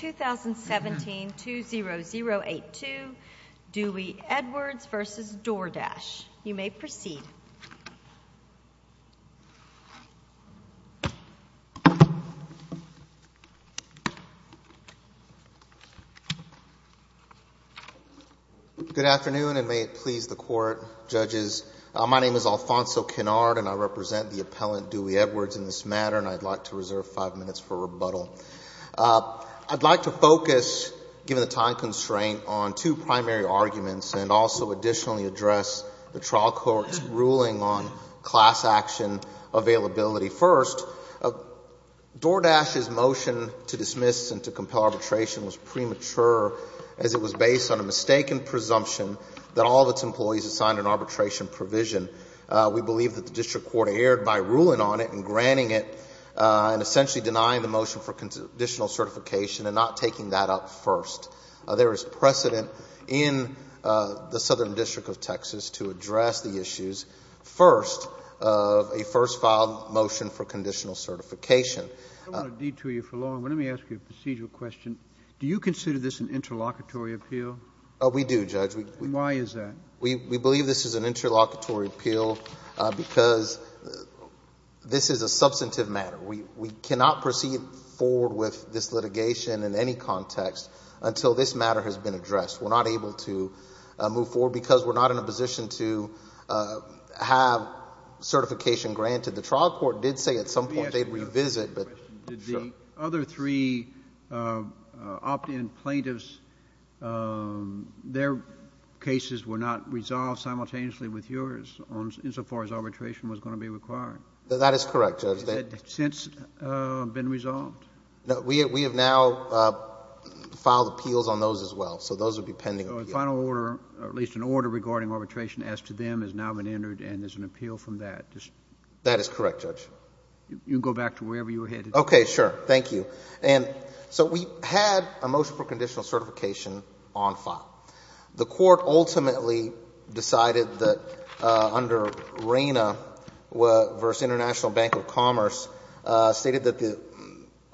2017-20082, Dewey Edwards v. DoorDash. You may proceed. Good afternoon, and may it please the Court, Judges. My name is Alfonso Kennard, and I represent the appellant, Dewey Edwards, in this matter, and I'd like to reserve five minutes for rebuttal. I'd like to focus, given the time constraint, on two primary arguments and also additionally address the trial court's ruling on class action availability. First, DoorDash's motion to dismiss and to compel arbitration was premature, as it was based on a mistaken presumption that all of its employees assigned an arbitration provision. We believe that the district court erred by ruling on it and granting it and essentially denying the motion for conditional certification and not taking that up first. There is precedent in the Southern District of Texas to address the issues first of a first filed motion for conditional certification. I don't want to detour you for long, but let me ask you a procedural question. Do you consider this an interlocutory appeal? We do, Judge. Why is that? We believe this is an interlocutory appeal because this is a substantive matter. We cannot proceed forward with this litigation in any context until this matter has been addressed. We're not able to move forward because we're not in a position to have certification granted. The trial court did say at some point they'd revisit. Did the other three opt-in plaintiffs, their cases were not resolved simultaneously with yours, insofar as arbitration was going to be required? That is correct, Judge. Has that since been resolved? We have now filed appeals on those as well, so those would be pending. So a final order, at least an order regarding arbitration as to them has now been entered and there's an appeal from that? That is correct, Judge. You can go back to wherever you were headed. Okay, sure. Thank you. And so we had a motion for conditional certification on file. The Court ultimately decided that under RANA versus International Bank of Commerce stated that the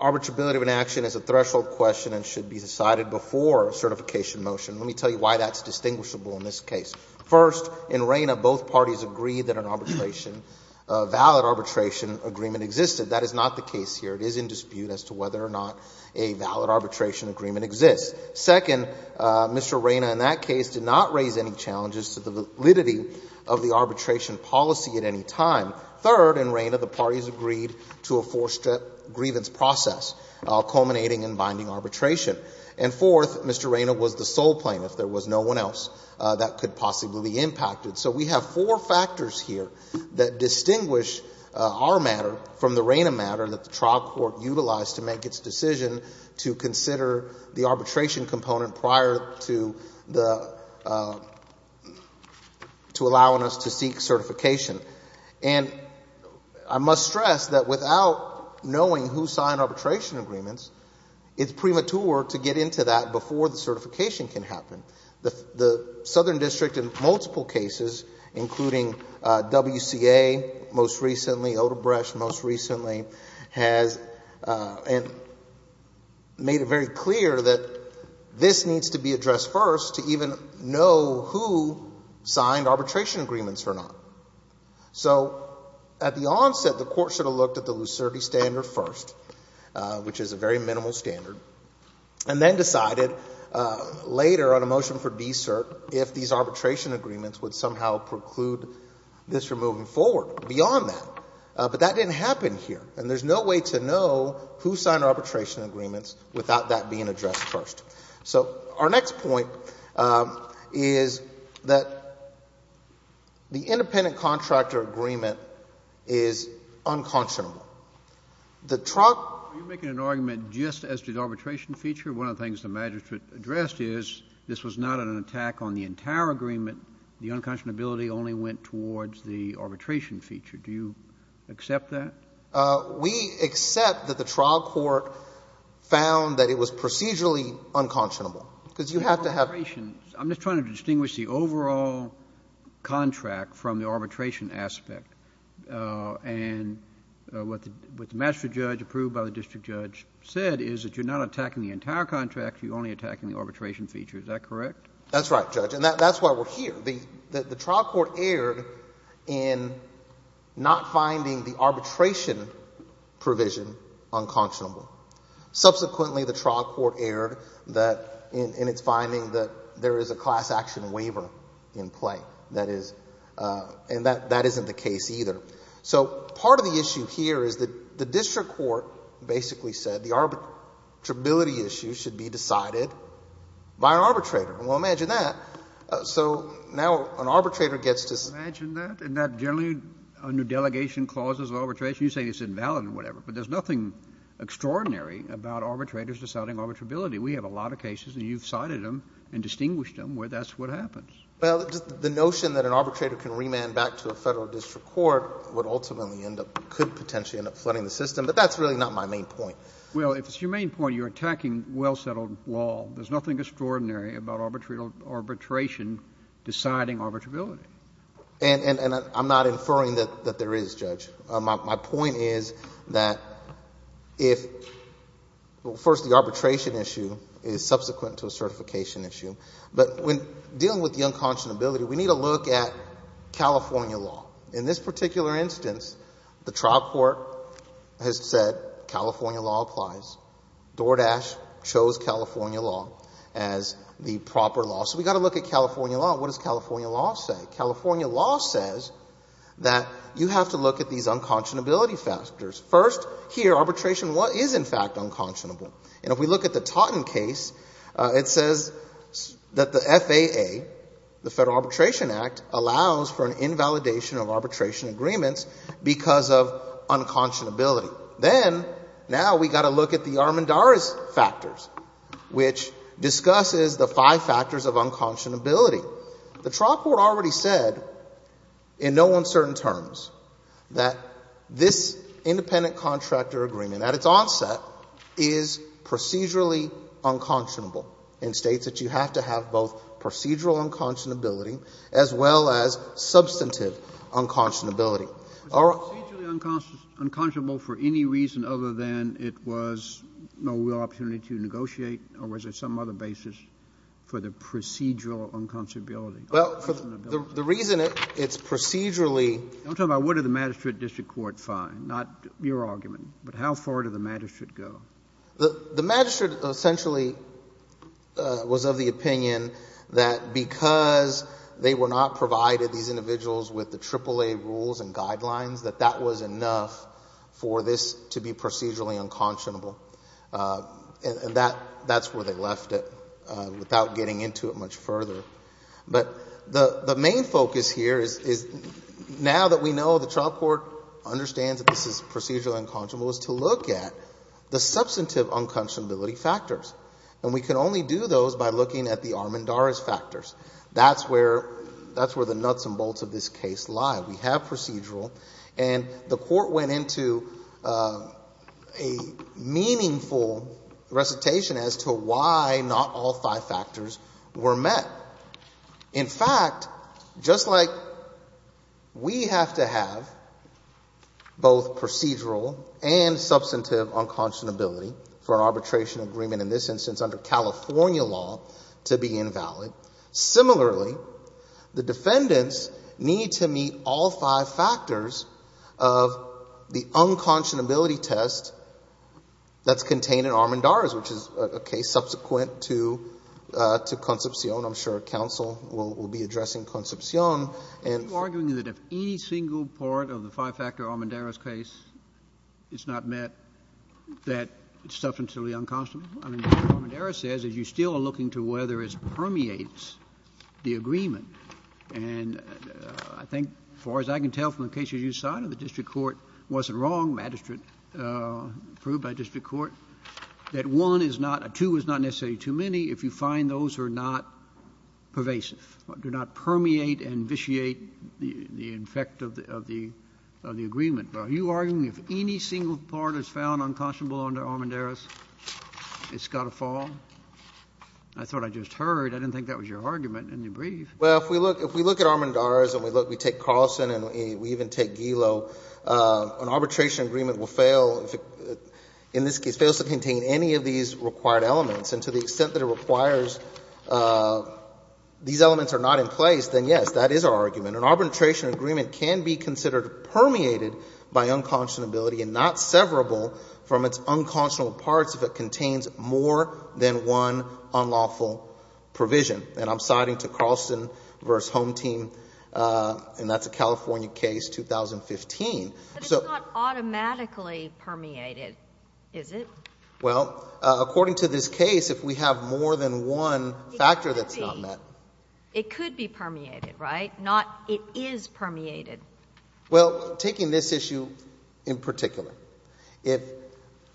arbitrability of an action is a threshold question and should be decided before a certification motion. Let me tell you why that's distinguishable in this case. First, in RANA, both parties agreed that an arbitration, a valid arbitration agreement existed. That is not the case here. It is in dispute as to whether or not a valid arbitration agreement exists. Second, Mr. RANA in that case did not raise any challenges to the validity of the arbitration policy at any time. Third, in RANA, the parties agreed to a four-step grievance process culminating in binding arbitration. And fourth, Mr. RANA was the sole plaintiff. There was no one else that could possibly be impacted. So we have four factors here that distinguish our matter from the RANA matter that the trial court utilized to make its decision to consider the arbitration component prior to the, to allowing us to seek certification. And I must stress that without knowing who signed arbitration agreements, it's premature to get into that before the certification can happen. The Southern District in multiple cases, including WCA most recently, Odebrecht most recently, has made it very clear that this needs to be addressed first to even know who signed arbitration agreements or not. So at the onset, the court should have looked at the lucidity standard first, which is a very minimal standard, and then decided later on a motion for de-cert if these arbitration agreements would somehow preclude this from moving forward. Beyond that. But that didn't happen here. And there's no way to know who signed arbitration agreements without that being addressed first. So our next point is that the independent contractor agreement is unconscionable. The trial- Are you making an argument just as to the arbitration feature? One of the things the magistrate addressed is this was not an attack on the entire agreement. The unconscionability only went towards the arbitration feature. Do you accept that? We accept that the trial court found that it was procedurally unconscionable. Because you have to have- I'm just trying to distinguish the overall contract from the arbitration aspect. And what the magistrate judge approved by the district judge said is that you're not attacking the entire contract, you're only attacking the arbitration feature. Is that correct? That's right, Judge. And that's why we're here. The trial court erred in not finding the arbitration provision unconscionable. Subsequently, the trial court erred in its finding that there is a class action waiver in play. And that isn't the case either. So part of the issue here is that the district court basically said the arbitrability issue should be decided by an arbitrator. Well, imagine that. So now an arbitrator gets to- Imagine that. And that generally under delegation clauses of arbitration, you say it's invalid or whatever. But there's nothing extraordinary about arbitrators deciding arbitrability. We have a lot of cases, and you've cited them and distinguished them where that's what happens. Well, the notion that an arbitrator can remand back to a federal district court would ultimately end up-could potentially end up flooding the system. But that's really not my main point. Well, if it's your main point, you're attacking well-settled law. There's nothing extraordinary about arbitration deciding arbitrability. And I'm not inferring that there is, Judge. My point is that if-well, first the arbitration issue is subsequent to a certification issue. But when dealing with the unconscionability, we need to look at California law. In this particular instance, the trial court has said California law applies. DoorDash chose California law as the proper law. So we've got to look at California law. What does California law say? California law says that you have to look at these unconscionability factors. First, here, arbitration is in fact unconscionable. And if we look at the Taunton case, it says that the FAA, the Federal Arbitration Act, allows for an invalidation of arbitration agreements because of unconscionability. Then, now we've got to look at the Armendariz factors, which discusses the five factors of unconscionability. The trial court already said in no uncertain terms that this independent contractor agreement at its onset is procedurally unconscionable and states that you have to have both procedural unconscionability as well as substantive unconscionability. Was it procedurally unconscionable for any reason other than it was no real opportunity to negotiate? Or was there some other basis for the procedural unconscionability? Well, the reason it's procedurally I'm talking about what did the magistrate district court find, not your argument. But how far did the magistrate go? The magistrate essentially was of the opinion that because they were not provided, these individuals, with the AAA rules and guidelines, that that was enough for this to be procedurally unconscionable. And that's where they left it without getting into it much further. But the main focus here is now that we know the trial court understands that this is procedurally unconscionable is to look at the substantive unconscionability factors. And we can only do those by looking at the Armendariz factors. That's where the nuts and bolts of this case lie. We have procedural. And the court went into a meaningful recitation as to why not all five factors were met. In fact, just like we have to have both procedural and substantive unconscionability for an arbitration agreement in this instance under California law to be invalid. Similarly, the defendants need to meet all five factors of the unconscionability test that's contained in Armendariz, which is a case subsequent to Concepcion. I'm sure counsel will be addressing Concepcion. Are you arguing that if any single part of the five-factor Armendariz case is not met, that it's substantively unconscionable? I mean, what Armendariz says is you still are looking to whether it permeates the agreement. And I think as far as I can tell from the cases you cited, the district court wasn't wrong. Magistrate proved by district court that one is not — two is not necessarily too many if you find those are not pervasive, do not permeate and vitiate the effect of the agreement. Are you arguing if any single part is found unconscionable under Armendariz, it's got to fall? I thought I just heard. I didn't think that was your argument in the brief. Well, if we look at Armendariz and we take Carlson and we even take Gilo, an arbitration agreement will fail if it in this case fails to contain any of these required elements. And to the extent that it requires these elements are not in place, then, yes, that is our argument. An arbitration agreement can be considered permeated by unconscionability and not severable from its unconscionable parts if it contains more than one unlawful provision. And I'm citing to Carlson v. Home Team, and that's a California case, 2015. But it's not automatically permeated, is it? Well, according to this case, if we have more than one factor that's not met. It could be. It could be permeated, right? Not it is permeated. Well, taking this issue in particular, if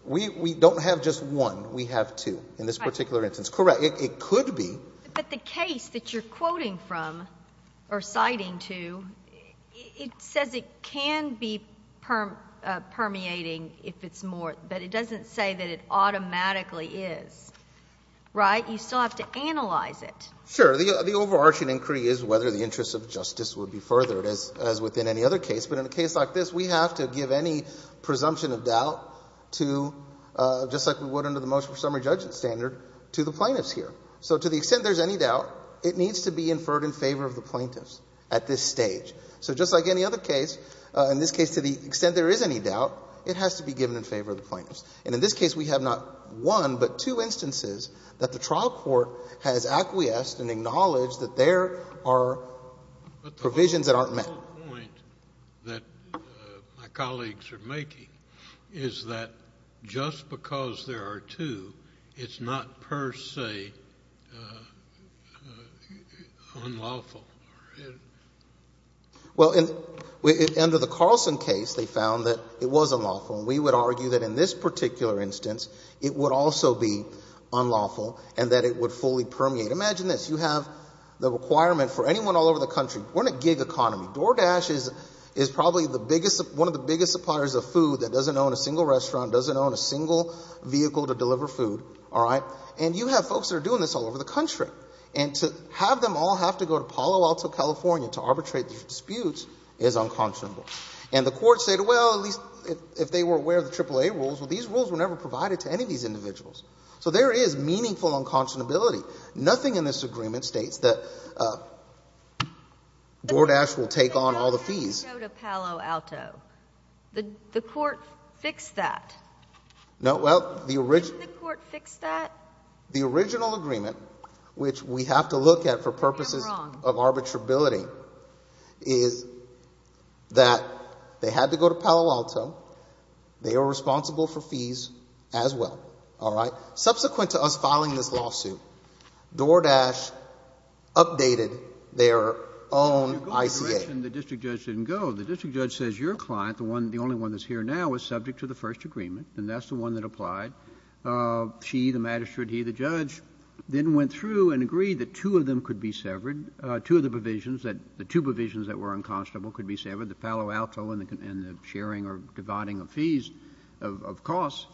we don't have just one, we have two in this particular instance. Correct. It could be. But the case that you're quoting from or citing to, it says it can be permeating if it's more. But it doesn't say that it automatically is, right? You still have to analyze it. Sure. The overarching inquiry is whether the interest of justice would be furthered as within any other case. But in a case like this, we have to give any presumption of doubt to, just like we would under the motion for summary judgment standard, to the plaintiffs here. So to the extent there's any doubt, it needs to be inferred in favor of the plaintiffs at this stage. So just like any other case, in this case to the extent there is any doubt, it has to be given in favor of the plaintiffs. And in this case, we have not one, but two instances that the trial court has acquiesced and acknowledged that there are provisions that aren't met. But the whole point that my colleagues are making is that just because there are two, it's not per se unlawful. Well, under the Carlson case, they found that it was unlawful. And we would argue that in this particular instance, it would also be unlawful and that it would fully permeate. Imagine this. You have the requirement for anyone all over the country. We're in a gig economy. DoorDash is probably one of the biggest suppliers of food that doesn't own a single restaurant, doesn't own a single vehicle to deliver food, all right? And you have folks that are doing this all over the country. And to have them all have to go to Palo Alto, California, to arbitrate these disputes is unconscionable. And the court stated, well, at least if they were aware of the AAA rules, well, these rules were never provided to any of these individuals. So there is meaningful unconscionability. Nothing in this agreement states that DoorDash will take on all the fees. But why didn't it go to Palo Alto? The court fixed that. No, well, the original — Didn't the court fix that? — the original agreement, which we have to look at for purposes of arbitrability, is that they had to go to Palo Alto. They are responsible for fees as well, all right? Subsequent to us filing this lawsuit, DoorDash updated their own ICA. You go in the direction the district judge didn't go. The district judge says your client, the only one that's here now, is subject to the first agreement, and that's the one that applied. She, the magistrate, he, the judge, then went through and agreed that two of them could be severed, two of the provisions that — the two provisions that were unconscionable could be severed, the Palo Alto and the sharing or dividing of fees, of costs.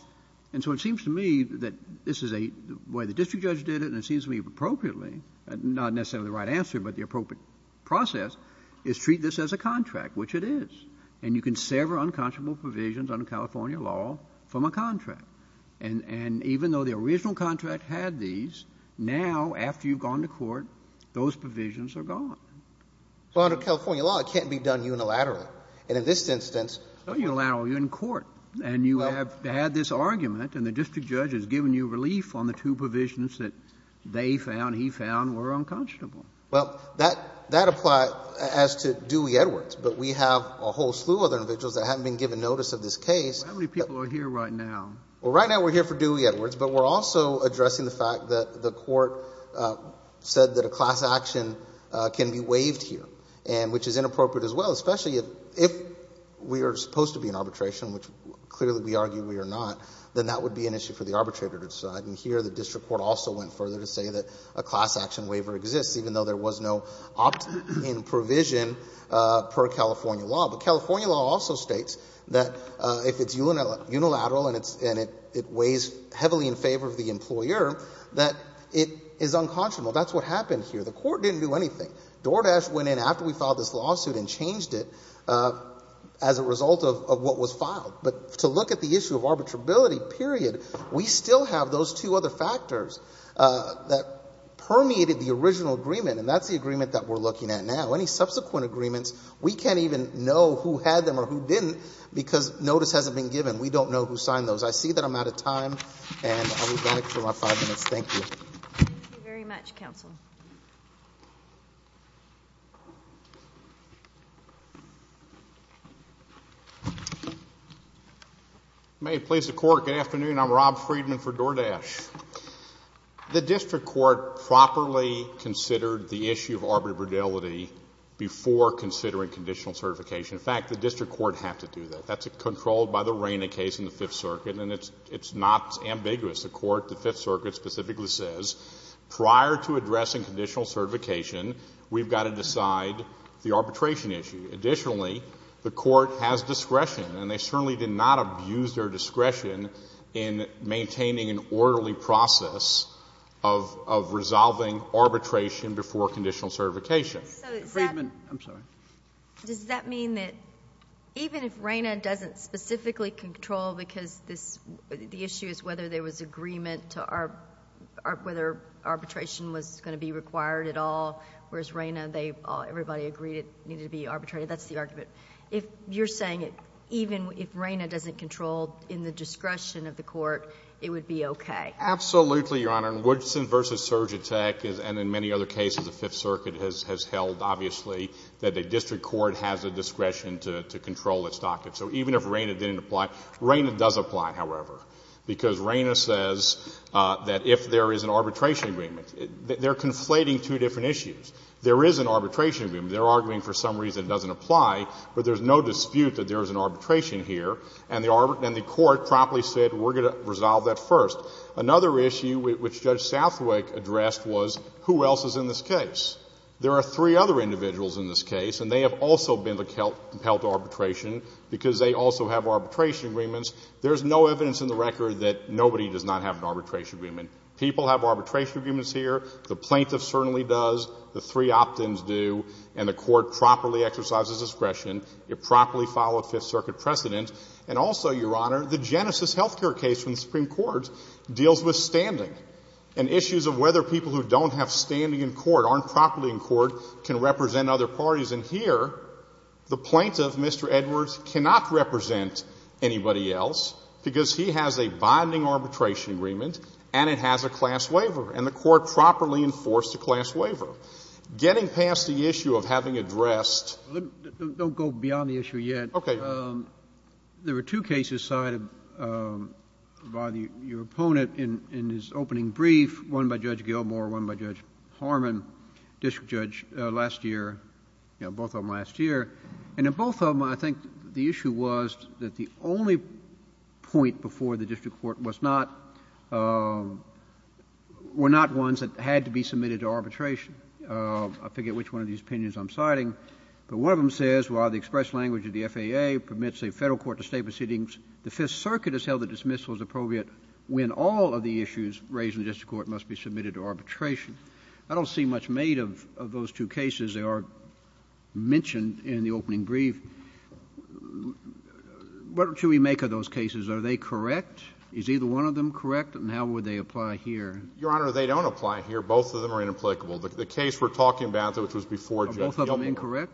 And so it seems to me that this is a — the way the district judge did it, and it seems to me appropriately, not necessarily the right answer, but the appropriate process, is treat this as a contract, which it is. And you can sever unconscionable provisions under California law from a contract. And even though the original contract had these, now, after you've gone to court, those provisions are gone. Well, under California law, it can't be done unilaterally. And in this instance — It's not unilateral. You're in court. And you have had this argument, and the district judge has given you relief on the two provisions that they found, he found, were unconscionable. Well, that applies as to Dewey Edwards, but we have a whole slew of other individuals that haven't been given notice of this case. How many people are here right now? Well, right now we're here for Dewey Edwards, but we're also addressing the fact that the court said that a class action can be waived here, which is inappropriate as well, especially if we are supposed to be in arbitration, which clearly we argue we are not, then that would be an issue for the arbitrator to decide. And here the district court also went further to say that a class action waiver exists, even though there was no opt-in provision per California law. But California law also states that if it's unilateral and it weighs heavily in favor of the employer, that it is unconscionable. That's what happened here. The court didn't do anything. DoorDash went in after we filed this lawsuit and changed it as a result of what was filed. But to look at the issue of arbitrability, period, we still have those two other factors that permeated the original agreement, and that's the agreement that we're looking at now. Any subsequent agreements, we can't even know who had them or who didn't because notice hasn't been given. We don't know who signed those. I see that I'm out of time, and I will be back for my five minutes. Thank you. Thank you very much, counsel. May it please the Court, good afternoon. I'm Rob Friedman for DoorDash. The district court properly considered the issue of arbitrability before considering conditional certification. In fact, the district court had to do that. That's controlled by the Raina case in the Fifth Circuit, and it's not ambiguous. The court, the Fifth Circuit, specifically says prior to addressing conditional certification, we've got to decide the arbitration issue. Additionally, the court has discretion, and they certainly did not abuse their discretion in maintaining an orderly process of resolving arbitration before conditional certification. Friedman. I'm sorry. Does that mean that even if Raina doesn't specifically control because this — the issue is whether there was agreement to — whether arbitration was going to be required at all, whereas Raina, everybody agreed it needed to be arbitrated. That's the argument. If you're saying even if Raina doesn't control in the discretion of the court, it would be okay? Absolutely, Your Honor. And Woodson v. Surgatec and in many other cases the Fifth Circuit has held, obviously, that the district court has the discretion to control its docket. So even if Raina didn't apply — Raina does apply, however, because Raina says that if there is an arbitration agreement — they're conflating two different issues. There is an arbitration agreement. They're arguing for some reason it doesn't apply, but there's no dispute that there is an arbitration here, and the court promptly said we're going to resolve that first. Another issue which Judge Southwick addressed was who else is in this case. There are three other individuals in this case, and they have also been compelled to arbitration because they also have arbitration agreements. There's no evidence in the record that nobody does not have an arbitration People have arbitration agreements here. The plaintiff certainly does. The three opt-ins do, and the court properly exercises discretion. It properly followed Fifth Circuit precedent. And also, Your Honor, the Genesis health care case from the Supreme Court deals with standing and issues of whether people who don't have standing in court, aren't properly in court, can represent other parties. And here the plaintiff, Mr. Edwards, cannot represent anybody else because he has a binding arbitration agreement and it has a class waiver, and the court properly enforced a class waiver. Getting past the issue of having addressed — Don't go beyond the issue yet. Okay, Your Honor. There were two cases cited by your opponent in his opening brief, one by Judge Gilmore, one by Judge Harmon, district judge, last year, you know, both of them last year. And in both of them, I think the issue was that the only point before the district court was not — were not ones that had to be submitted to arbitration. I forget which one of these opinions I'm citing. But one of them says, while the express language of the FAA permits a Federal court to state proceedings, the Fifth Circuit has held that dismissal is appropriate when all of the issues raised in the district court must be submitted to arbitration. I don't see much made of those two cases. They are mentioned in the opening brief. What should we make of those cases? Are they correct? Is either one of them correct, and how would they apply here? Your Honor, they don't apply here. Both of them are inapplicable. The case we're talking about, which was before Judge Gilmore — Are both of them incorrect?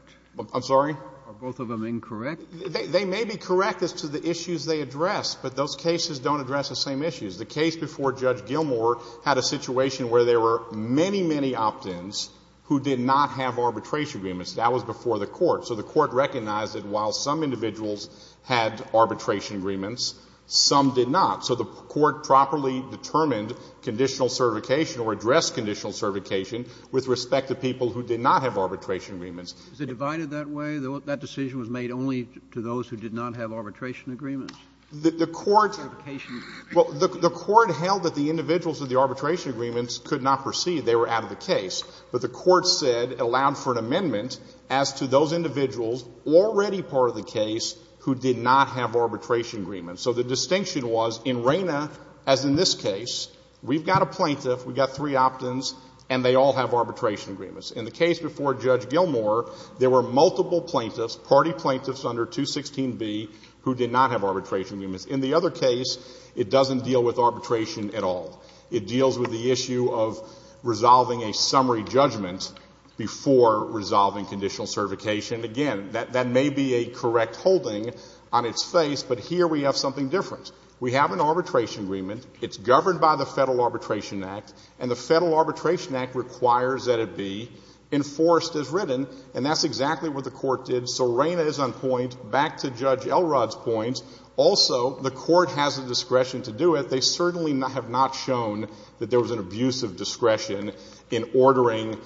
I'm sorry? Are both of them incorrect? They may be correct as to the issues they address, but those cases don't address the same issues. The case before Judge Gilmore had a situation where there were many, many opt-ins who did not have arbitration agreements. That was before the court. So the court recognized that while some individuals had arbitration agreements, some did not. So the court properly determined conditional certification or addressed conditional certification with respect to people who did not have arbitration agreements. Was it divided that way? That decision was made only to those who did not have arbitration agreements? The court held that the individuals with the arbitration agreements could not proceed. They were out of the case. But the court said it allowed for an amendment as to those individuals already part of the case who did not have arbitration agreements. So the distinction was in Reyna, as in this case, we've got a plaintiff, we've got three opt-ins, and they all have arbitration agreements. In the case before Judge Gilmore, there were multiple plaintiffs, party plaintiffs under 216B, who did not have arbitration agreements. In the other case, it doesn't deal with arbitration at all. It deals with the issue of resolving a summary judgment before resolving conditional certification. Again, that may be a correct holding on its face, but here we have something different. We have an arbitration agreement. It's governed by the Federal Arbitration Act, and the Federal Arbitration Act requires that it be enforced as written, and that's exactly what the court did. So Reyna is on point. Back to Judge Elrod's point. Also, the court has the discretion to do it. They certainly have not shown that there was an abuse of discretion in ordering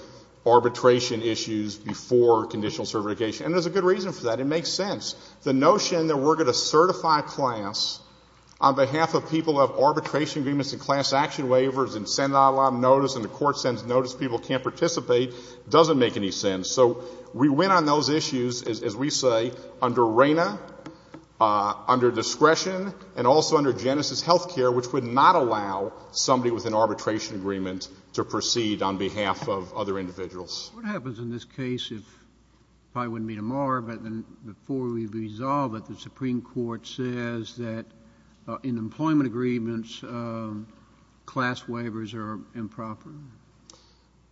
arbitration issues before conditional certification, and there's a good reason for that. It makes sense. The notion that we're going to certify a class on behalf of people who have arbitration agreements and class action waivers and send out a lot of notice and the court sends notice, people can't participate, doesn't make any sense. So we went on those issues, as we say, under Reyna, under discretion, and also under Genesis Healthcare, which would not allow somebody with an arbitration agreement to proceed on behalf of other individuals. What happens in this case if, it probably wouldn't be tomorrow, but before we resolve it, the Supreme Court says that in employment agreements, class waivers are improper?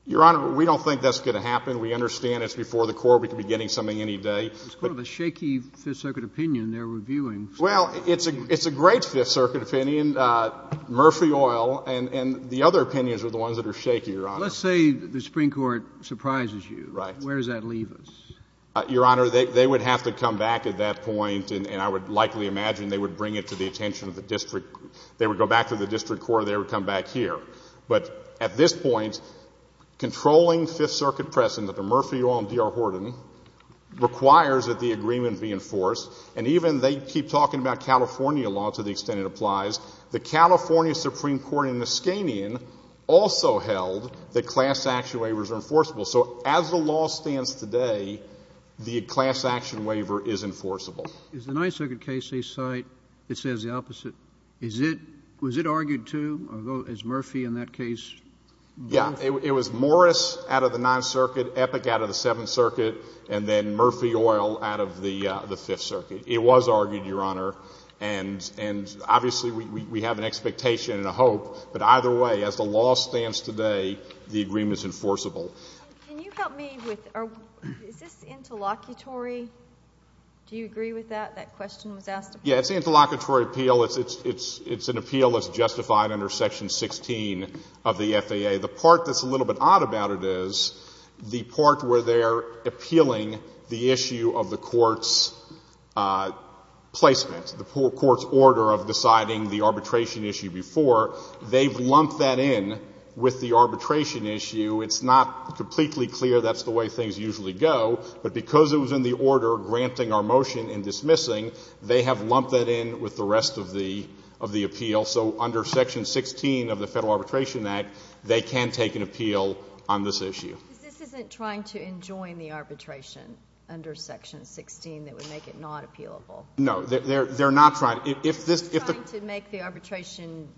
Your Honor, we don't think that's going to happen. We understand it's before the court. We could be getting something any day. It's kind of a shaky Fifth Circuit opinion they're reviewing. Well, it's a great Fifth Circuit opinion. Murphy Oil and the other opinions are the ones that are shaky, Your Honor. Let's say the Supreme Court surprises you. Right. Where does that leave us? Your Honor, they would have to come back at that point, and I would likely imagine they would bring it to the attention of the district. They would go back to the district court and they would come back here. But at this point, controlling Fifth Circuit precedent under Murphy Oil and D.R. We're talking about California law to the extent it applies. The California Supreme Court in Niskanian also held that class action waivers are enforceable. So as the law stands today, the class action waiver is enforceable. Is the Ninth Circuit case they cite, it says the opposite? Was it argued too? Is Murphy in that case? Yeah. It was Morris out of the Ninth Circuit, Epic out of the Seventh Circuit, and then Murphy Oil out of the Fifth Circuit. It was argued, Your Honor, and obviously we have an expectation and a hope, but either way, as the law stands today, the agreement is enforceable. Can you help me with, is this interlocutory? Do you agree with that, that question was asked? Yeah, it's interlocutory appeal. It's an appeal that's justified under Section 16 of the FAA. The part that's a little bit odd about it is the part where they're appealing the issue of the court's placement, the court's order of deciding the arbitration issue before. They've lumped that in with the arbitration issue. It's not completely clear that's the way things usually go. But because it was in the order granting our motion and dismissing, they have lumped that in with the rest of the appeal. So under Section 16 of the Federal Arbitration Act, they can take an appeal on this issue. But this isn't trying to enjoin the arbitration under Section 16 that would make it not appealable. No. They're not trying to. They're trying to make the arbitration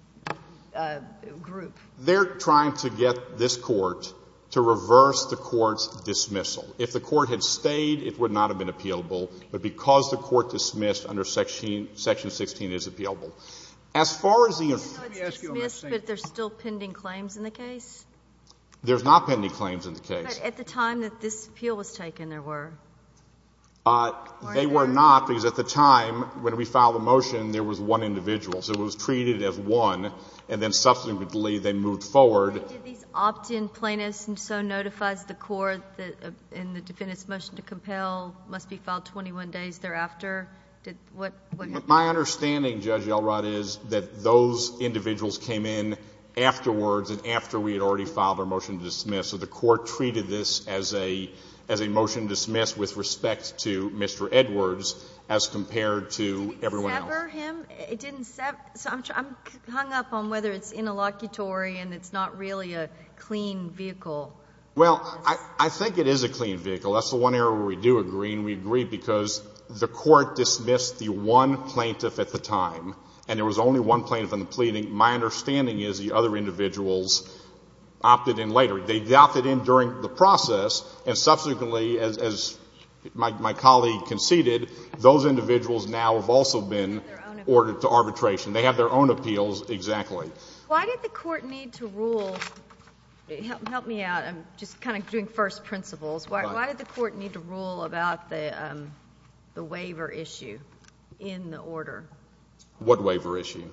group. They're trying to get this Court to reverse the Court's dismissal. If the Court had stayed, it would not have been appealable. But because the Court dismissed under Section 16, it is appealable. As far as the other thing. It's dismissed, but there's still pending claims in the case? There's not pending claims in the case. But at the time that this appeal was taken, there were? They were not, because at the time, when we filed the motion, there was one individual. So it was treated as one, and then subsequently they moved forward. Did these opt-in plaintiffs, and so notifies the Court in the defendant's motion to compel, must be filed 21 days thereafter? What happened? My understanding, Judge Elrod, is that those individuals came in afterwards and after we had already filed our motion to dismiss. So the Court treated this as a motion to dismiss with respect to Mr. Edwards as compared to everyone else. Did it sever him? It didn't sever. I'm hung up on whether it's interlocutory and it's not really a clean vehicle. Well, I think it is a clean vehicle. That's the one area where we do agree, and we agree because the Court dismissed the one plaintiff at the time, and there was only one plaintiff in the plea. My understanding is the other individuals opted in later. They opted in during the process, and subsequently, as my colleague conceded, those individuals now have also been ordered to arbitration. They have their own appeals exactly. Why did the Court need to rule? Help me out. I'm just kind of doing first principles. Why did the Court need to rule about the waiver issue in the order? What waiver issue?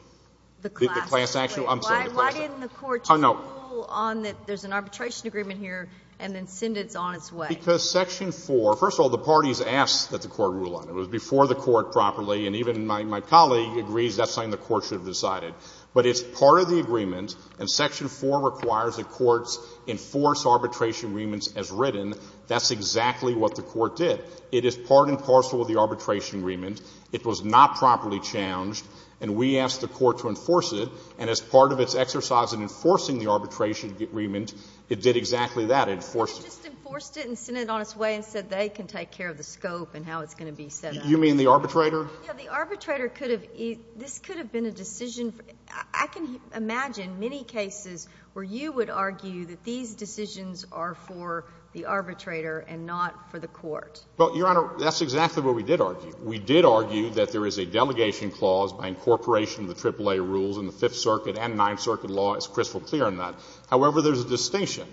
The class action. Why didn't the Court rule on that there's an arbitration agreement here and then send it on its way? Because Section 4, first of all, the parties asked that the Court rule on it. It was before the Court properly, and even my colleague agrees that's something the Court should have decided. But it's part of the agreement, and Section 4 requires that courts enforce arbitration agreements as written. That's exactly what the Court did. It is part and parcel of the arbitration agreement. It was not properly challenged. And we asked the Court to enforce it, and as part of its exercise in enforcing the arbitration agreement, it did exactly that. It enforced it. But it just enforced it and sent it on its way and said they can take care of the scope and how it's going to be set up. You mean the arbitrator? Yeah. The arbitrator could have — this could have been a decision. I can imagine many cases where you would argue that these decisions are for the arbitrator and not for the Court. Well, Your Honor, that's exactly what we did argue. We did argue that there is a delegation clause by incorporation of the AAA rules in the Fifth Circuit and Ninth Circuit law. It's crystal clear on that. However, there's a distinction.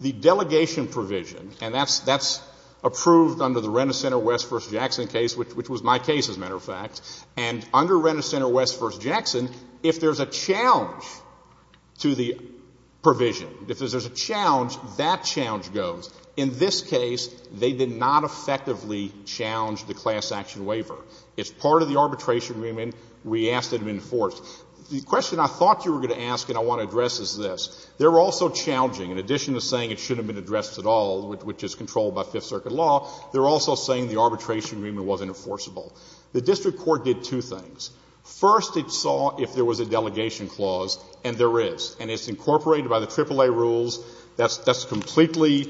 The delegation provision, and that's approved under the Renner Center West v. Jackson case, which was my case, as a matter of fact. And under Renner Center West v. Jackson, if there's a challenge to the provision, if there's a challenge, that challenge goes. In this case, they did not effectively challenge the class action waiver. As part of the arbitration agreement, we asked it to be enforced. The question I thought you were going to ask and I want to address is this. They're also challenging. In addition to saying it shouldn't have been addressed at all, which is controlled by Fifth Circuit law, they're also saying the arbitration agreement wasn't enforceable. The district court did two things. First, it saw if there was a delegation clause, and there is. And it's incorporated by the AAA rules. That's completely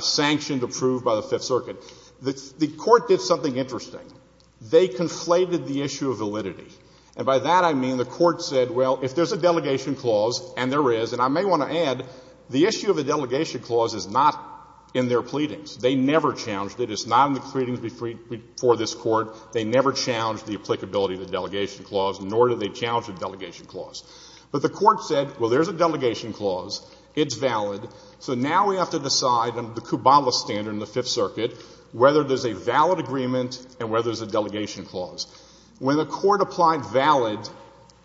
sanctioned, approved by the Fifth Circuit. The court did something interesting. They conflated the issue of validity. And by that I mean the court said, well, if there's a delegation clause, and there is, and I may want to add, the issue of a delegation clause is not in their pleadings. They never challenged it. It's not in the pleadings before this Court. They never challenged the applicability of the delegation clause, nor did they challenge the delegation clause. But the court said, well, there's a delegation clause. It's valid. So now we have to decide under the Kubala standard in the Fifth Circuit whether there's a valid agreement and whether there's a delegation clause. When the court applied valid,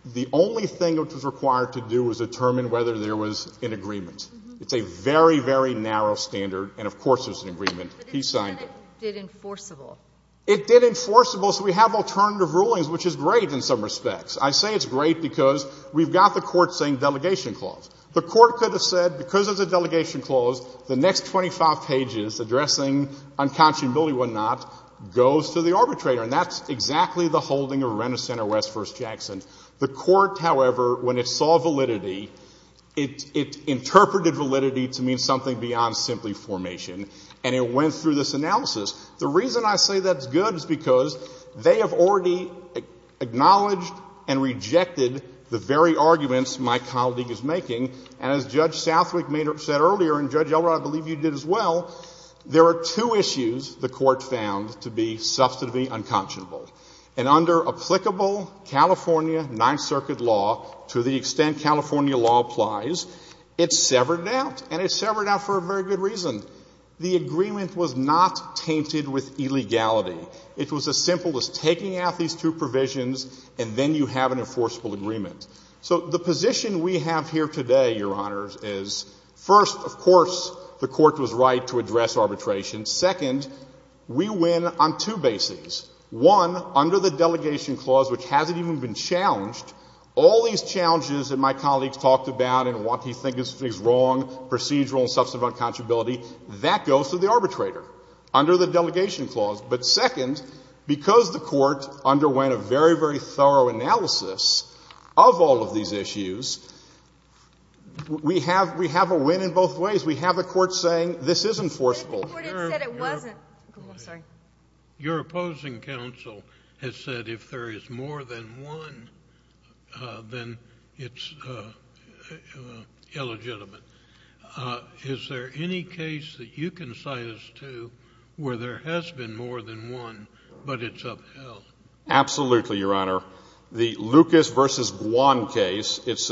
the only thing which was required to do was determine whether there was an agreement. It's a very, very narrow standard, and of course there's an agreement. He signed it. But it said it did enforceable. It did enforceable, so we have alternative rulings, which is great in some respects. I say it's great because we've got the court saying delegation clause. The court could have said because there's a delegation clause, the next 25 pages addressing unconscionability, whatnot, goes to the arbitrator, and that's exactly the holding of Renner Center West v. Jackson. The court, however, when it saw validity, it interpreted validity to mean something beyond simply formation, and it went through this analysis. The reason I say that's good is because they have already acknowledged and rejected the very arguments my colleague is making, and as Judge Southwick made or said earlier, and Judge Elrod, I believe you did as well, there are two issues the court found to be substantively unconscionable. And under applicable California Ninth Circuit law, to the extent California law applies, it severed it out, and it severed it out for a very good reason. The agreement was not tainted with illegality. It was as simple as taking out these two provisions, and then you have an enforceable agreement. So the position we have here today, Your Honors, is, first, of course, the court was right to address arbitration. Second, we win on two bases. One, under the delegation clause, which hasn't even been challenged, all these challenges that my colleague talked about and what he thinks is wrong, procedural and substantive unconscionability, that goes to the arbitrator under the delegation clause. But second, because the court underwent a very, very thorough analysis of all of these issues, we have a win in both ways. We have a court saying this is enforceable. Your opposing counsel has said if there is more than one, then it's illegitimate. Is there any case that you can cite us to where there has been more than one, but it's upheld? Absolutely, Your Honor. The Lucas v. Guan case, it's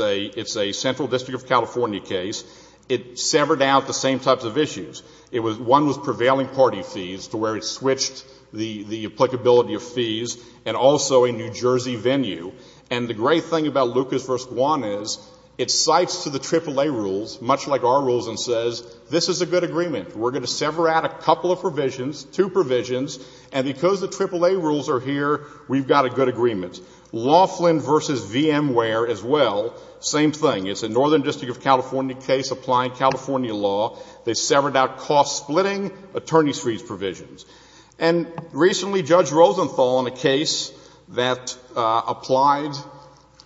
a central district of California case. It severed out the same types of issues. One was prevailing party fees to where it switched the applicability of fees, and also a New Jersey venue. And the great thing about Lucas v. Guan is it cites to the AAA rules, much like our rules, and says this is a good agreement. We're going to sever out a couple of provisions, two provisions, and because the AAA rules are here, we've got a good agreement. Laughlin v. VMware as well, same thing. It's a northern district of California case applying California law. They severed out cost-splitting attorney's fees provisions. And recently, Judge Rosenthal, in a case that applied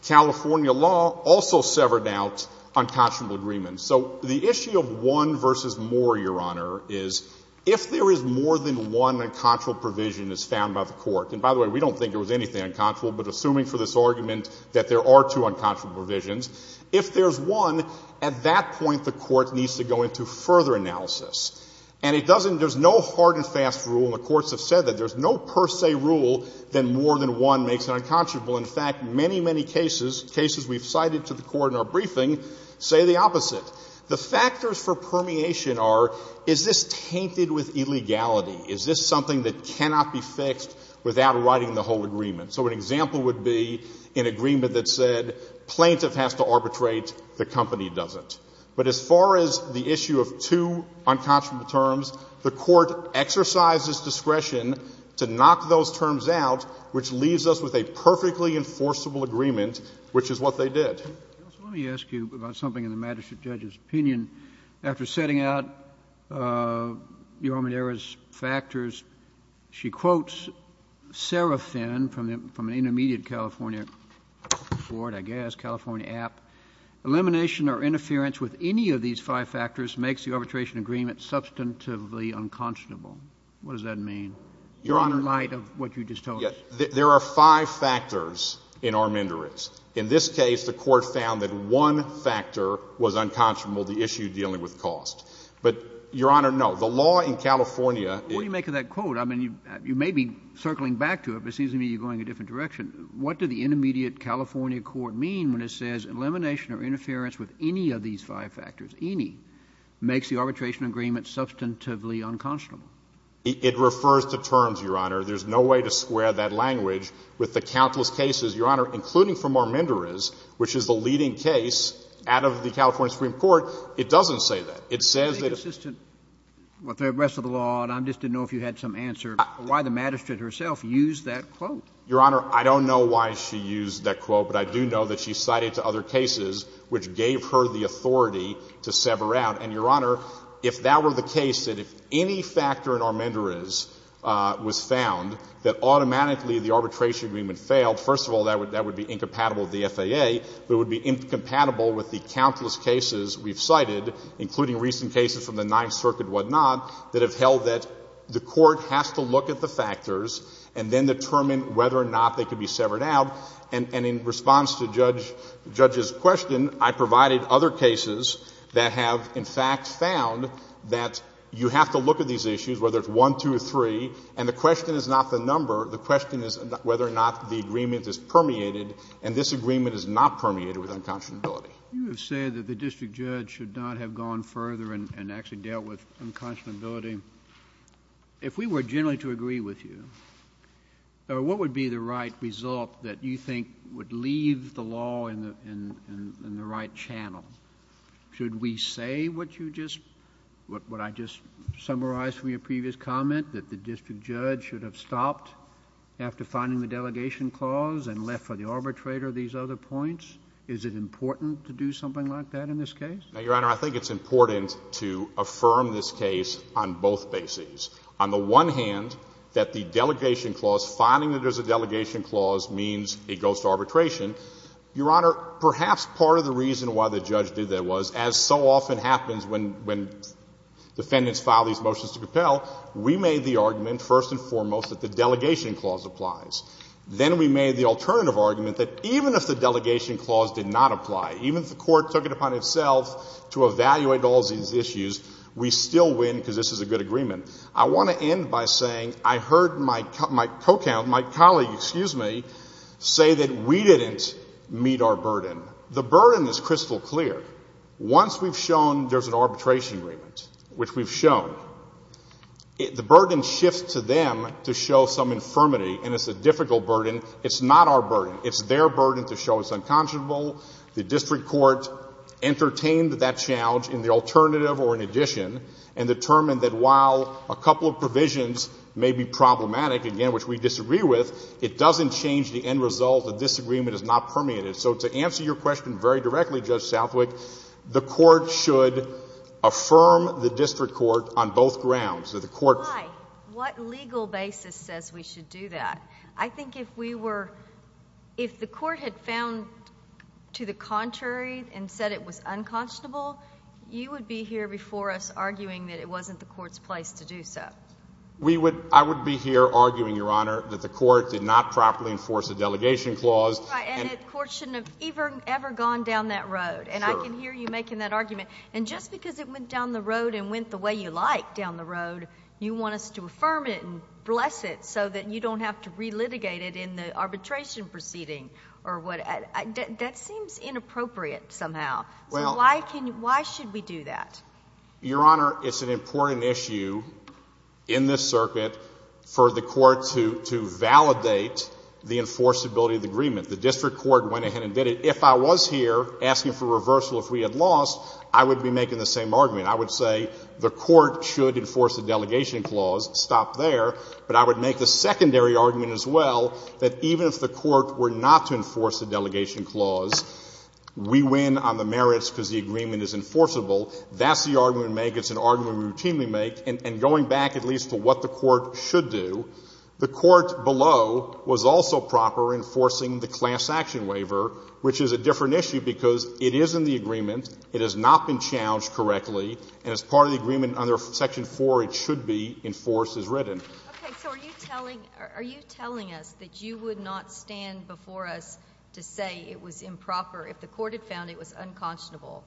California law, also severed out unconscionable agreements. So the issue of one versus more, Your Honor, is if there is more than one unconscionable provision as found by the Court, and by the way, we don't think there was anything unconscionable, but assuming for this argument that there are two unconscionable provisions, if there's one, at that point the Court needs to go into further analysis. And it doesn't — there's no hard-and-fast rule, and the courts have said that. There's no per se rule that more than one makes it unconscionable. In fact, many, many cases, cases we've cited to the Court in our briefing, say the opposite. The factors for permeation are, is this tainted with illegality? Is this something that cannot be fixed without writing the whole agreement? So an example would be an agreement that said plaintiff has to arbitrate, the company doesn't. But as far as the issue of two unconscionable terms, the Court exercises discretion to knock those terms out, which leaves us with a perfectly enforceable agreement, which is what they did. Let me ask you about something in the magistrate judge's opinion. After setting out Your Honor's factors, she quotes Sarah Finn from an intermediate California board, I guess, California app. Elimination or interference with any of these five factors makes the arbitration agreement substantively unconscionable. What does that mean? Your Honor. In light of what you just told us. There are five factors in armanduris. In this case, the Court found that one factor was unconscionable, the issue dealing with cost. But, Your Honor, no. The law in California is — What do you make of that quote? I mean, you may be circling back to it, but it seems to me you're going a different direction. What did the intermediate California court mean when it says elimination or interference with any of these five factors, any, makes the arbitration agreement substantively unconscionable? It refers to terms, Your Honor. There's no way to square that language with the countless cases, Your Honor, including from armanduris, which is the leading case out of the California Supreme Court. It doesn't say that. It says that — Well, the rest of the law, and I just didn't know if you had some answer, why the magistrate herself used that quote. Your Honor, I don't know why she used that quote, but I do know that she cited to other cases which gave her the authority to sever out. And, Your Honor, if that were the case, that if any factor in armanduris was found, that automatically the arbitration agreement failed, first of all, that would be incompatible with the FAA, but it would be incompatible with the countless cases we've cited, including recent cases from the Ninth Circuit and whatnot, that have held that the issue is whether or not they could be severed out. And in response to Judge's question, I provided other cases that have, in fact, found that you have to look at these issues, whether it's one, two, or three, and the question is not the number. The question is whether or not the agreement is permeated, and this agreement is not permeated with unconscionability. You have said that the district judge should not have gone further and actually dealt with unconscionability. If we were generally to agree with you, what would be the right result that you think would leave the law in the right channel? Should we say what you just, what I just summarized from your previous comment, that the district judge should have stopped after finding the delegation clause and left for the arbitrator these other points? Is it important to do something like that in this case? Now, Your Honor, I think it's important to affirm this case on both bases. On the one hand, that the delegation clause, finding that there's a delegation clause, means it goes to arbitration. Your Honor, perhaps part of the reason why the judge did that was, as so often happens when defendants file these motions to compel, we made the argument, first and foremost, that the delegation clause applies. Then we made the alternative argument that even if the delegation clause did not apply, even if the court took it upon itself to evaluate all these issues, we still win because this is a good agreement. I want to end by saying I heard my co-counsel, my colleague, excuse me, say that we didn't meet our burden. The burden is crystal clear. Once we've shown there's an arbitration agreement, which we've shown, the burden shifts to them to show some infirmity, and it's a difficult burden. It's not our burden. It's their burden to show it's unconscionable. The district court entertained that challenge in the alternative or in addition and determined that while a couple of provisions may be problematic, again, which we disagree with, it doesn't change the end result. The disagreement is not permeated. So to answer your question very directly, Judge Southwick, the court should affirm the district court on both grounds. Why? What legal basis says we should do that? I think if the court had found to the contrary and said it was unconscionable, you would be here before us arguing that it wasn't the court's place to do so. I would be here arguing, Your Honor, that the court did not properly enforce the delegation clause. Right, and the court shouldn't have ever gone down that road. And I can hear you making that argument. And just because it went down the road and went the way you like down the road, you want us to affirm it and bless it so that you don't have to relitigate it in the arbitration proceeding. That seems inappropriate somehow. So why should we do that? Your Honor, it's an important issue in this circuit for the court to validate the enforceability of the agreement. The district court went ahead and did it. If I was here asking for reversal if we had lost, I would be making the same argument. I would say the court should enforce the delegation clause. Stop there. But I would make the secondary argument as well that even if the court were not to enforce the delegation clause, we win on the merits because the agreement is enforceable. That's the argument we make. It's an argument we routinely make. And going back at least to what the court should do, the court below was also proper enforcing the class action waiver, which is a different issue because it is in the agreement. It has not been challenged correctly. And as part of the agreement under Section 4, it should be enforced as written. Okay. So are you telling us that you would not stand before us to say it was improper if the court had found it was unconscionable?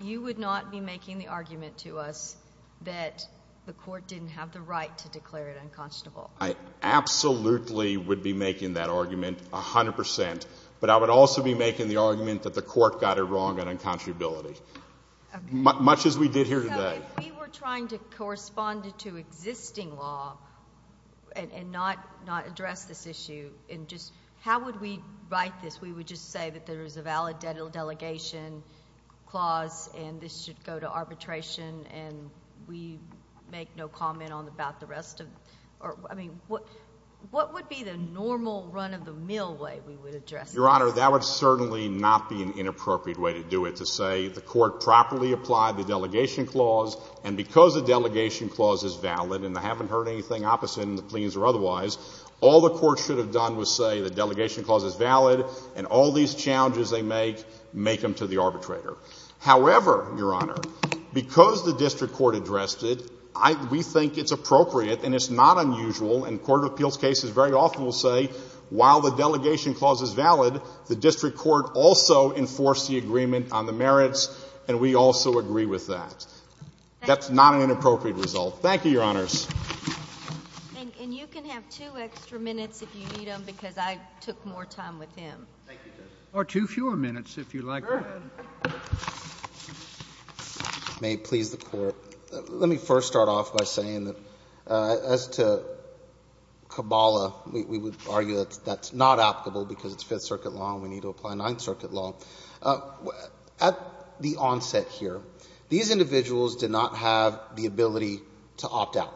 You would not be making the argument to us that the court didn't have the right to declare it unconscionable. I absolutely would be making that argument, 100 percent. But I would also be making the argument that the court got it wrong at unconscionability, much as we did here today. So if we were trying to correspond to existing law and not address this issue, and just how would we write this? We would just say that there is a valid delegation clause and this should go to arbitration and we make no comment about the rest of it? Or, I mean, what would be the normal run-of-the-mill way we would address this? Your Honor, that would certainly not be an inappropriate way to do it, to say the court properly applied the delegation clause and because the delegation clause is valid and I haven't heard anything opposite in the pleas or otherwise, all the court should have done was say the delegation clause is valid and all these challenges they make, make them to the arbitrator. However, Your Honor, because the district court addressed it, we think it's appropriate and it's not unusual and court of appeals cases very often will say while the delegation clause is valid, the district court also enforced the agreement on the merits and we also agree with that. That's not an inappropriate result. Thank you, Your Honors. And you can have two extra minutes if you need them because I took more time with him. Or two fewer minutes if you like. May it please the Court. Let me first start off by saying that as to Cabala, we would argue that that's not applicable because it's Fifth Circuit law and we need to apply Ninth Circuit law. At the onset here, these individuals did not have the ability to opt out.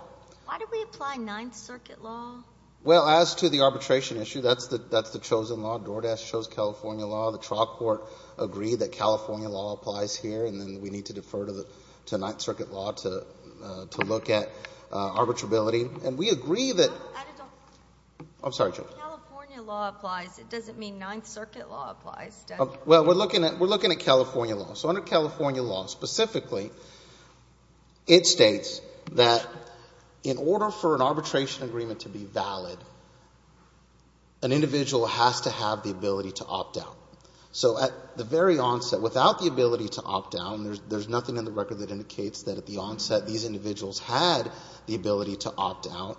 Why did we apply Ninth Circuit law? Well, as to the arbitration issue, that's the chosen law. DoorDash chose California law. We're looking at California law. So under California law, specifically, it states that in order for an arbitration agreement to be valid, an individual has to have the ability to opt out. So at the very onset, without the ability to opt out, there's nothing in the Fifth that indicates that at the onset these individuals had the ability to opt out.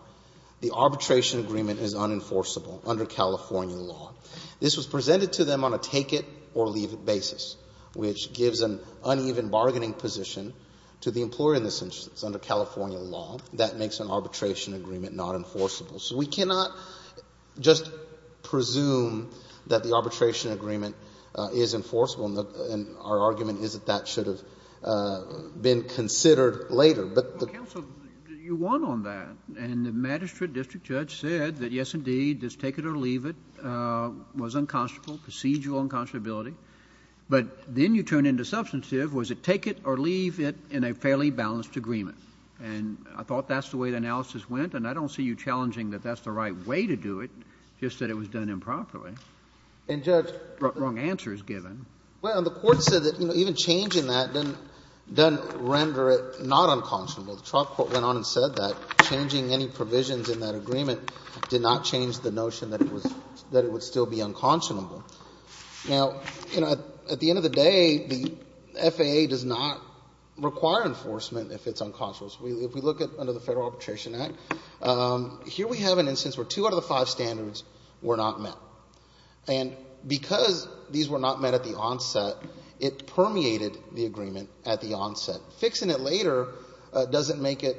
The arbitration agreement is unenforceable under California law. This was presented to them on a take-it-or-leave basis, which gives an uneven bargaining position to the employer in this instance under California law. That makes an arbitration agreement not enforceable. So we cannot just presume that the arbitration agreement is enforceable. And our argument is that that should have been considered later. But the ---- Well, counsel, you won on that. And the magistrate district judge said that, yes, indeed, this take-it-or-leave it was unconscionable, procedural unconscionability. But then you turn into substantive. Was it take-it-or-leave it in a fairly balanced agreement? And I thought that's the way the analysis went. And I don't see you challenging that that's the right way to do it, just that it was done improperly. And, Judge ---- Wrong answer is given. Well, the Court said that even changing that doesn't render it not unconscionable. The trial court went on and said that. Changing any provisions in that agreement did not change the notion that it was ---- that it would still be unconscionable. Now, at the end of the day, the FAA does not require enforcement if it's unconscionable. If we look under the Federal Arbitration Act, here we have an instance where two out of the five standards were not met. And because these were not met at the onset, it permeated the agreement at the onset. Fixing it later doesn't make it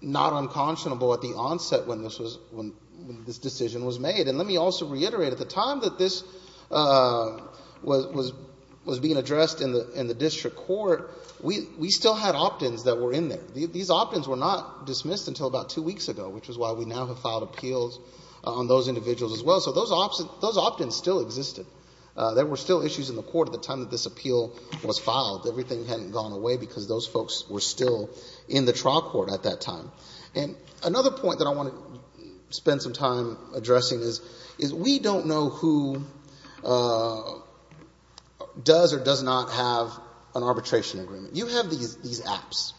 not unconscionable at the onset when this was ---- when this decision was made. And let me also reiterate, at the time that this was being addressed in the district court, we still had opt-ins that were in there. These opt-ins were not dismissed until about two weeks ago, which is why we now have filed appeals on those individuals as well. So those opt-ins still existed. There were still issues in the court at the time that this appeal was filed. Everything hadn't gone away because those folks were still in the trial court at that time. And another point that I want to spend some time addressing is we don't know who does or does not have an arbitration agreement. You have these apps,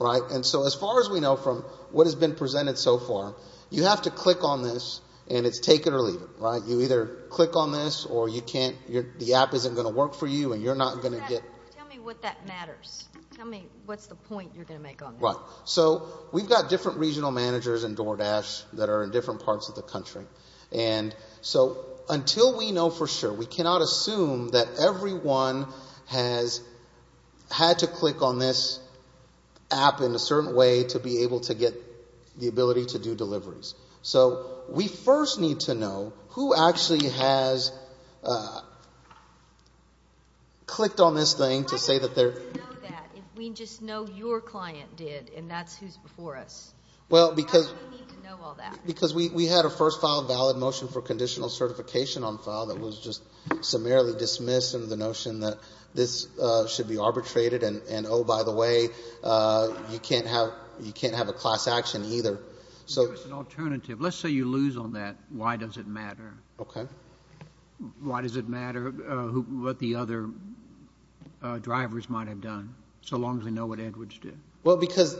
right? And so as far as we know from what has been presented so far, you have to click on this and it's take it or leave it, right? You either click on this or you can't. The app isn't going to work for you and you're not going to get ---- Tell me what that matters. Tell me what's the point you're going to make on that. Right. So we've got different regional managers in DoorDash that are in different parts of the country. And so until we know for sure, we cannot assume that everyone has had to click on this app in a certain way to be able to get the ability to do deliveries. So we first need to know who actually has clicked on this thing to say that they're ---- Why do we need to know that if we just know your client did and that's who's before us? Why do we need to know all that? Because we had a first file valid motion for conditional certification on file that was just summarily dismissed under the notion that this should be arbitrated and, oh, by the way, you can't have a class action either. So it's an alternative. Let's say you lose on that. Why does it matter? Okay. Why does it matter what the other drivers might have done, so long as we know what Edwards did? Well, because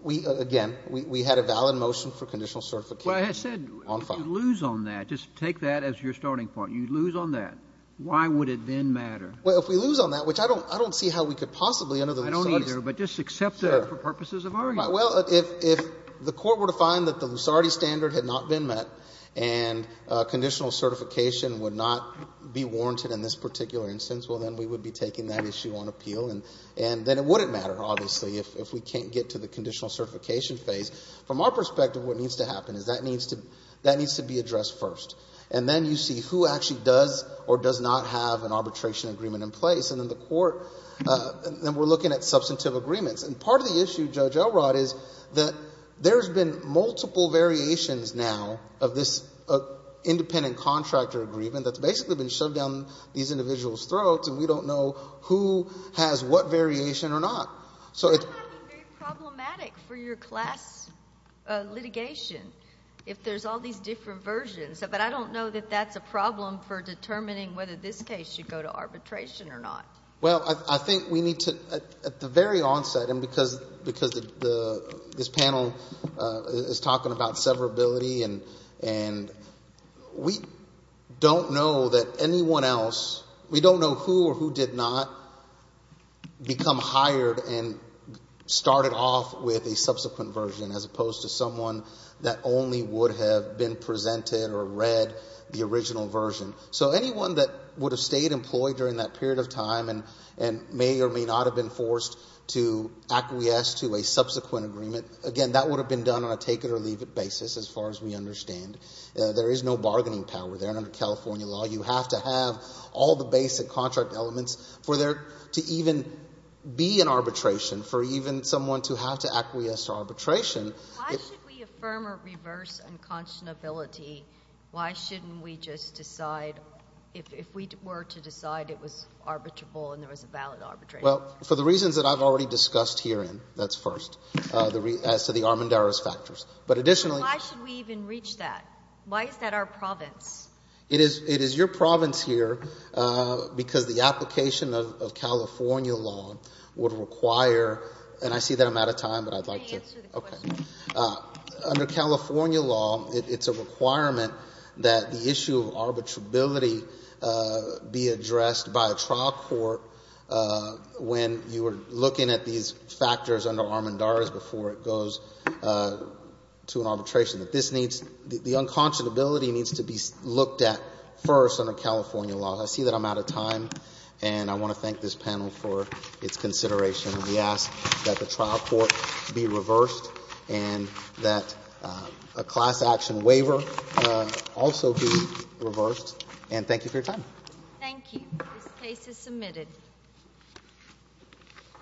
we ---- again, we had a valid motion for conditional certification on file. Well, I said you lose on that. Just take that as your starting point. You lose on that. Why would it then matter? Well, if we lose on that, which I don't see how we could possibly under the ---- I don't either, but just accept that for purposes of argument. Well, if the Court were to find that the Lusardi standard had not been met and conditional certification would not be warranted in this particular instance, well, then we would be taking that issue on appeal and then it wouldn't matter, obviously, if we can't get to the conditional certification phase. From our perspective, what needs to happen is that needs to be addressed first. And then you see who actually does or does not have an arbitration agreement in place. And then the Court ---- then we're looking at substantive agreements. And part of the issue, Judge Elrod, is that there's been multiple variations now of this independent contractor agreement that's basically been shoved down these individuals' throats and we don't know who has what variation or not. So it's ---- That might be very problematic for your class litigation if there's all these different versions. But I don't know that that's a problem for determining whether this case should go to arbitration or not. Well, I think we need to, at the very onset, and because this panel is talking about severability and we don't know that anyone else, we don't know who or who did not become hired and started off with a subsequent version as opposed to someone that only would have been presented or read the original version. So anyone that would have stayed employed during that period of time and may or may not have been forced to acquiesce to a subsequent agreement, again, that would have been done on a take-it-or-leave-it basis as far as we understand. There is no bargaining power there. And under California law, you have to have all the basic contract elements for there to even be an arbitration, for even someone to have to acquiesce to arbitration. Why should we affirm or reverse unconscionability? Why shouldn't we just decide, if we were to decide it was arbitrable and there was a valid arbitration? Well, for the reasons that I've already discussed herein, that's first, as to the Armendariz factors. But additionally— Why should we even reach that? Why is that our province? It is your province here because the application of California law would require—and I see that I'm out of time, but I'd like to— Under California law, it's a requirement that the issue of arbitrability be addressed by a trial court when you are looking at these factors under Armendariz before it goes to an arbitration. This needs—the unconscionability needs to be looked at first under California law. I see that I'm out of time, and I want to thank this panel for its consideration. We ask that the trial court be reversed and that a class action waiver also be reversed. And thank you for your time. Thank you. This case is submitted.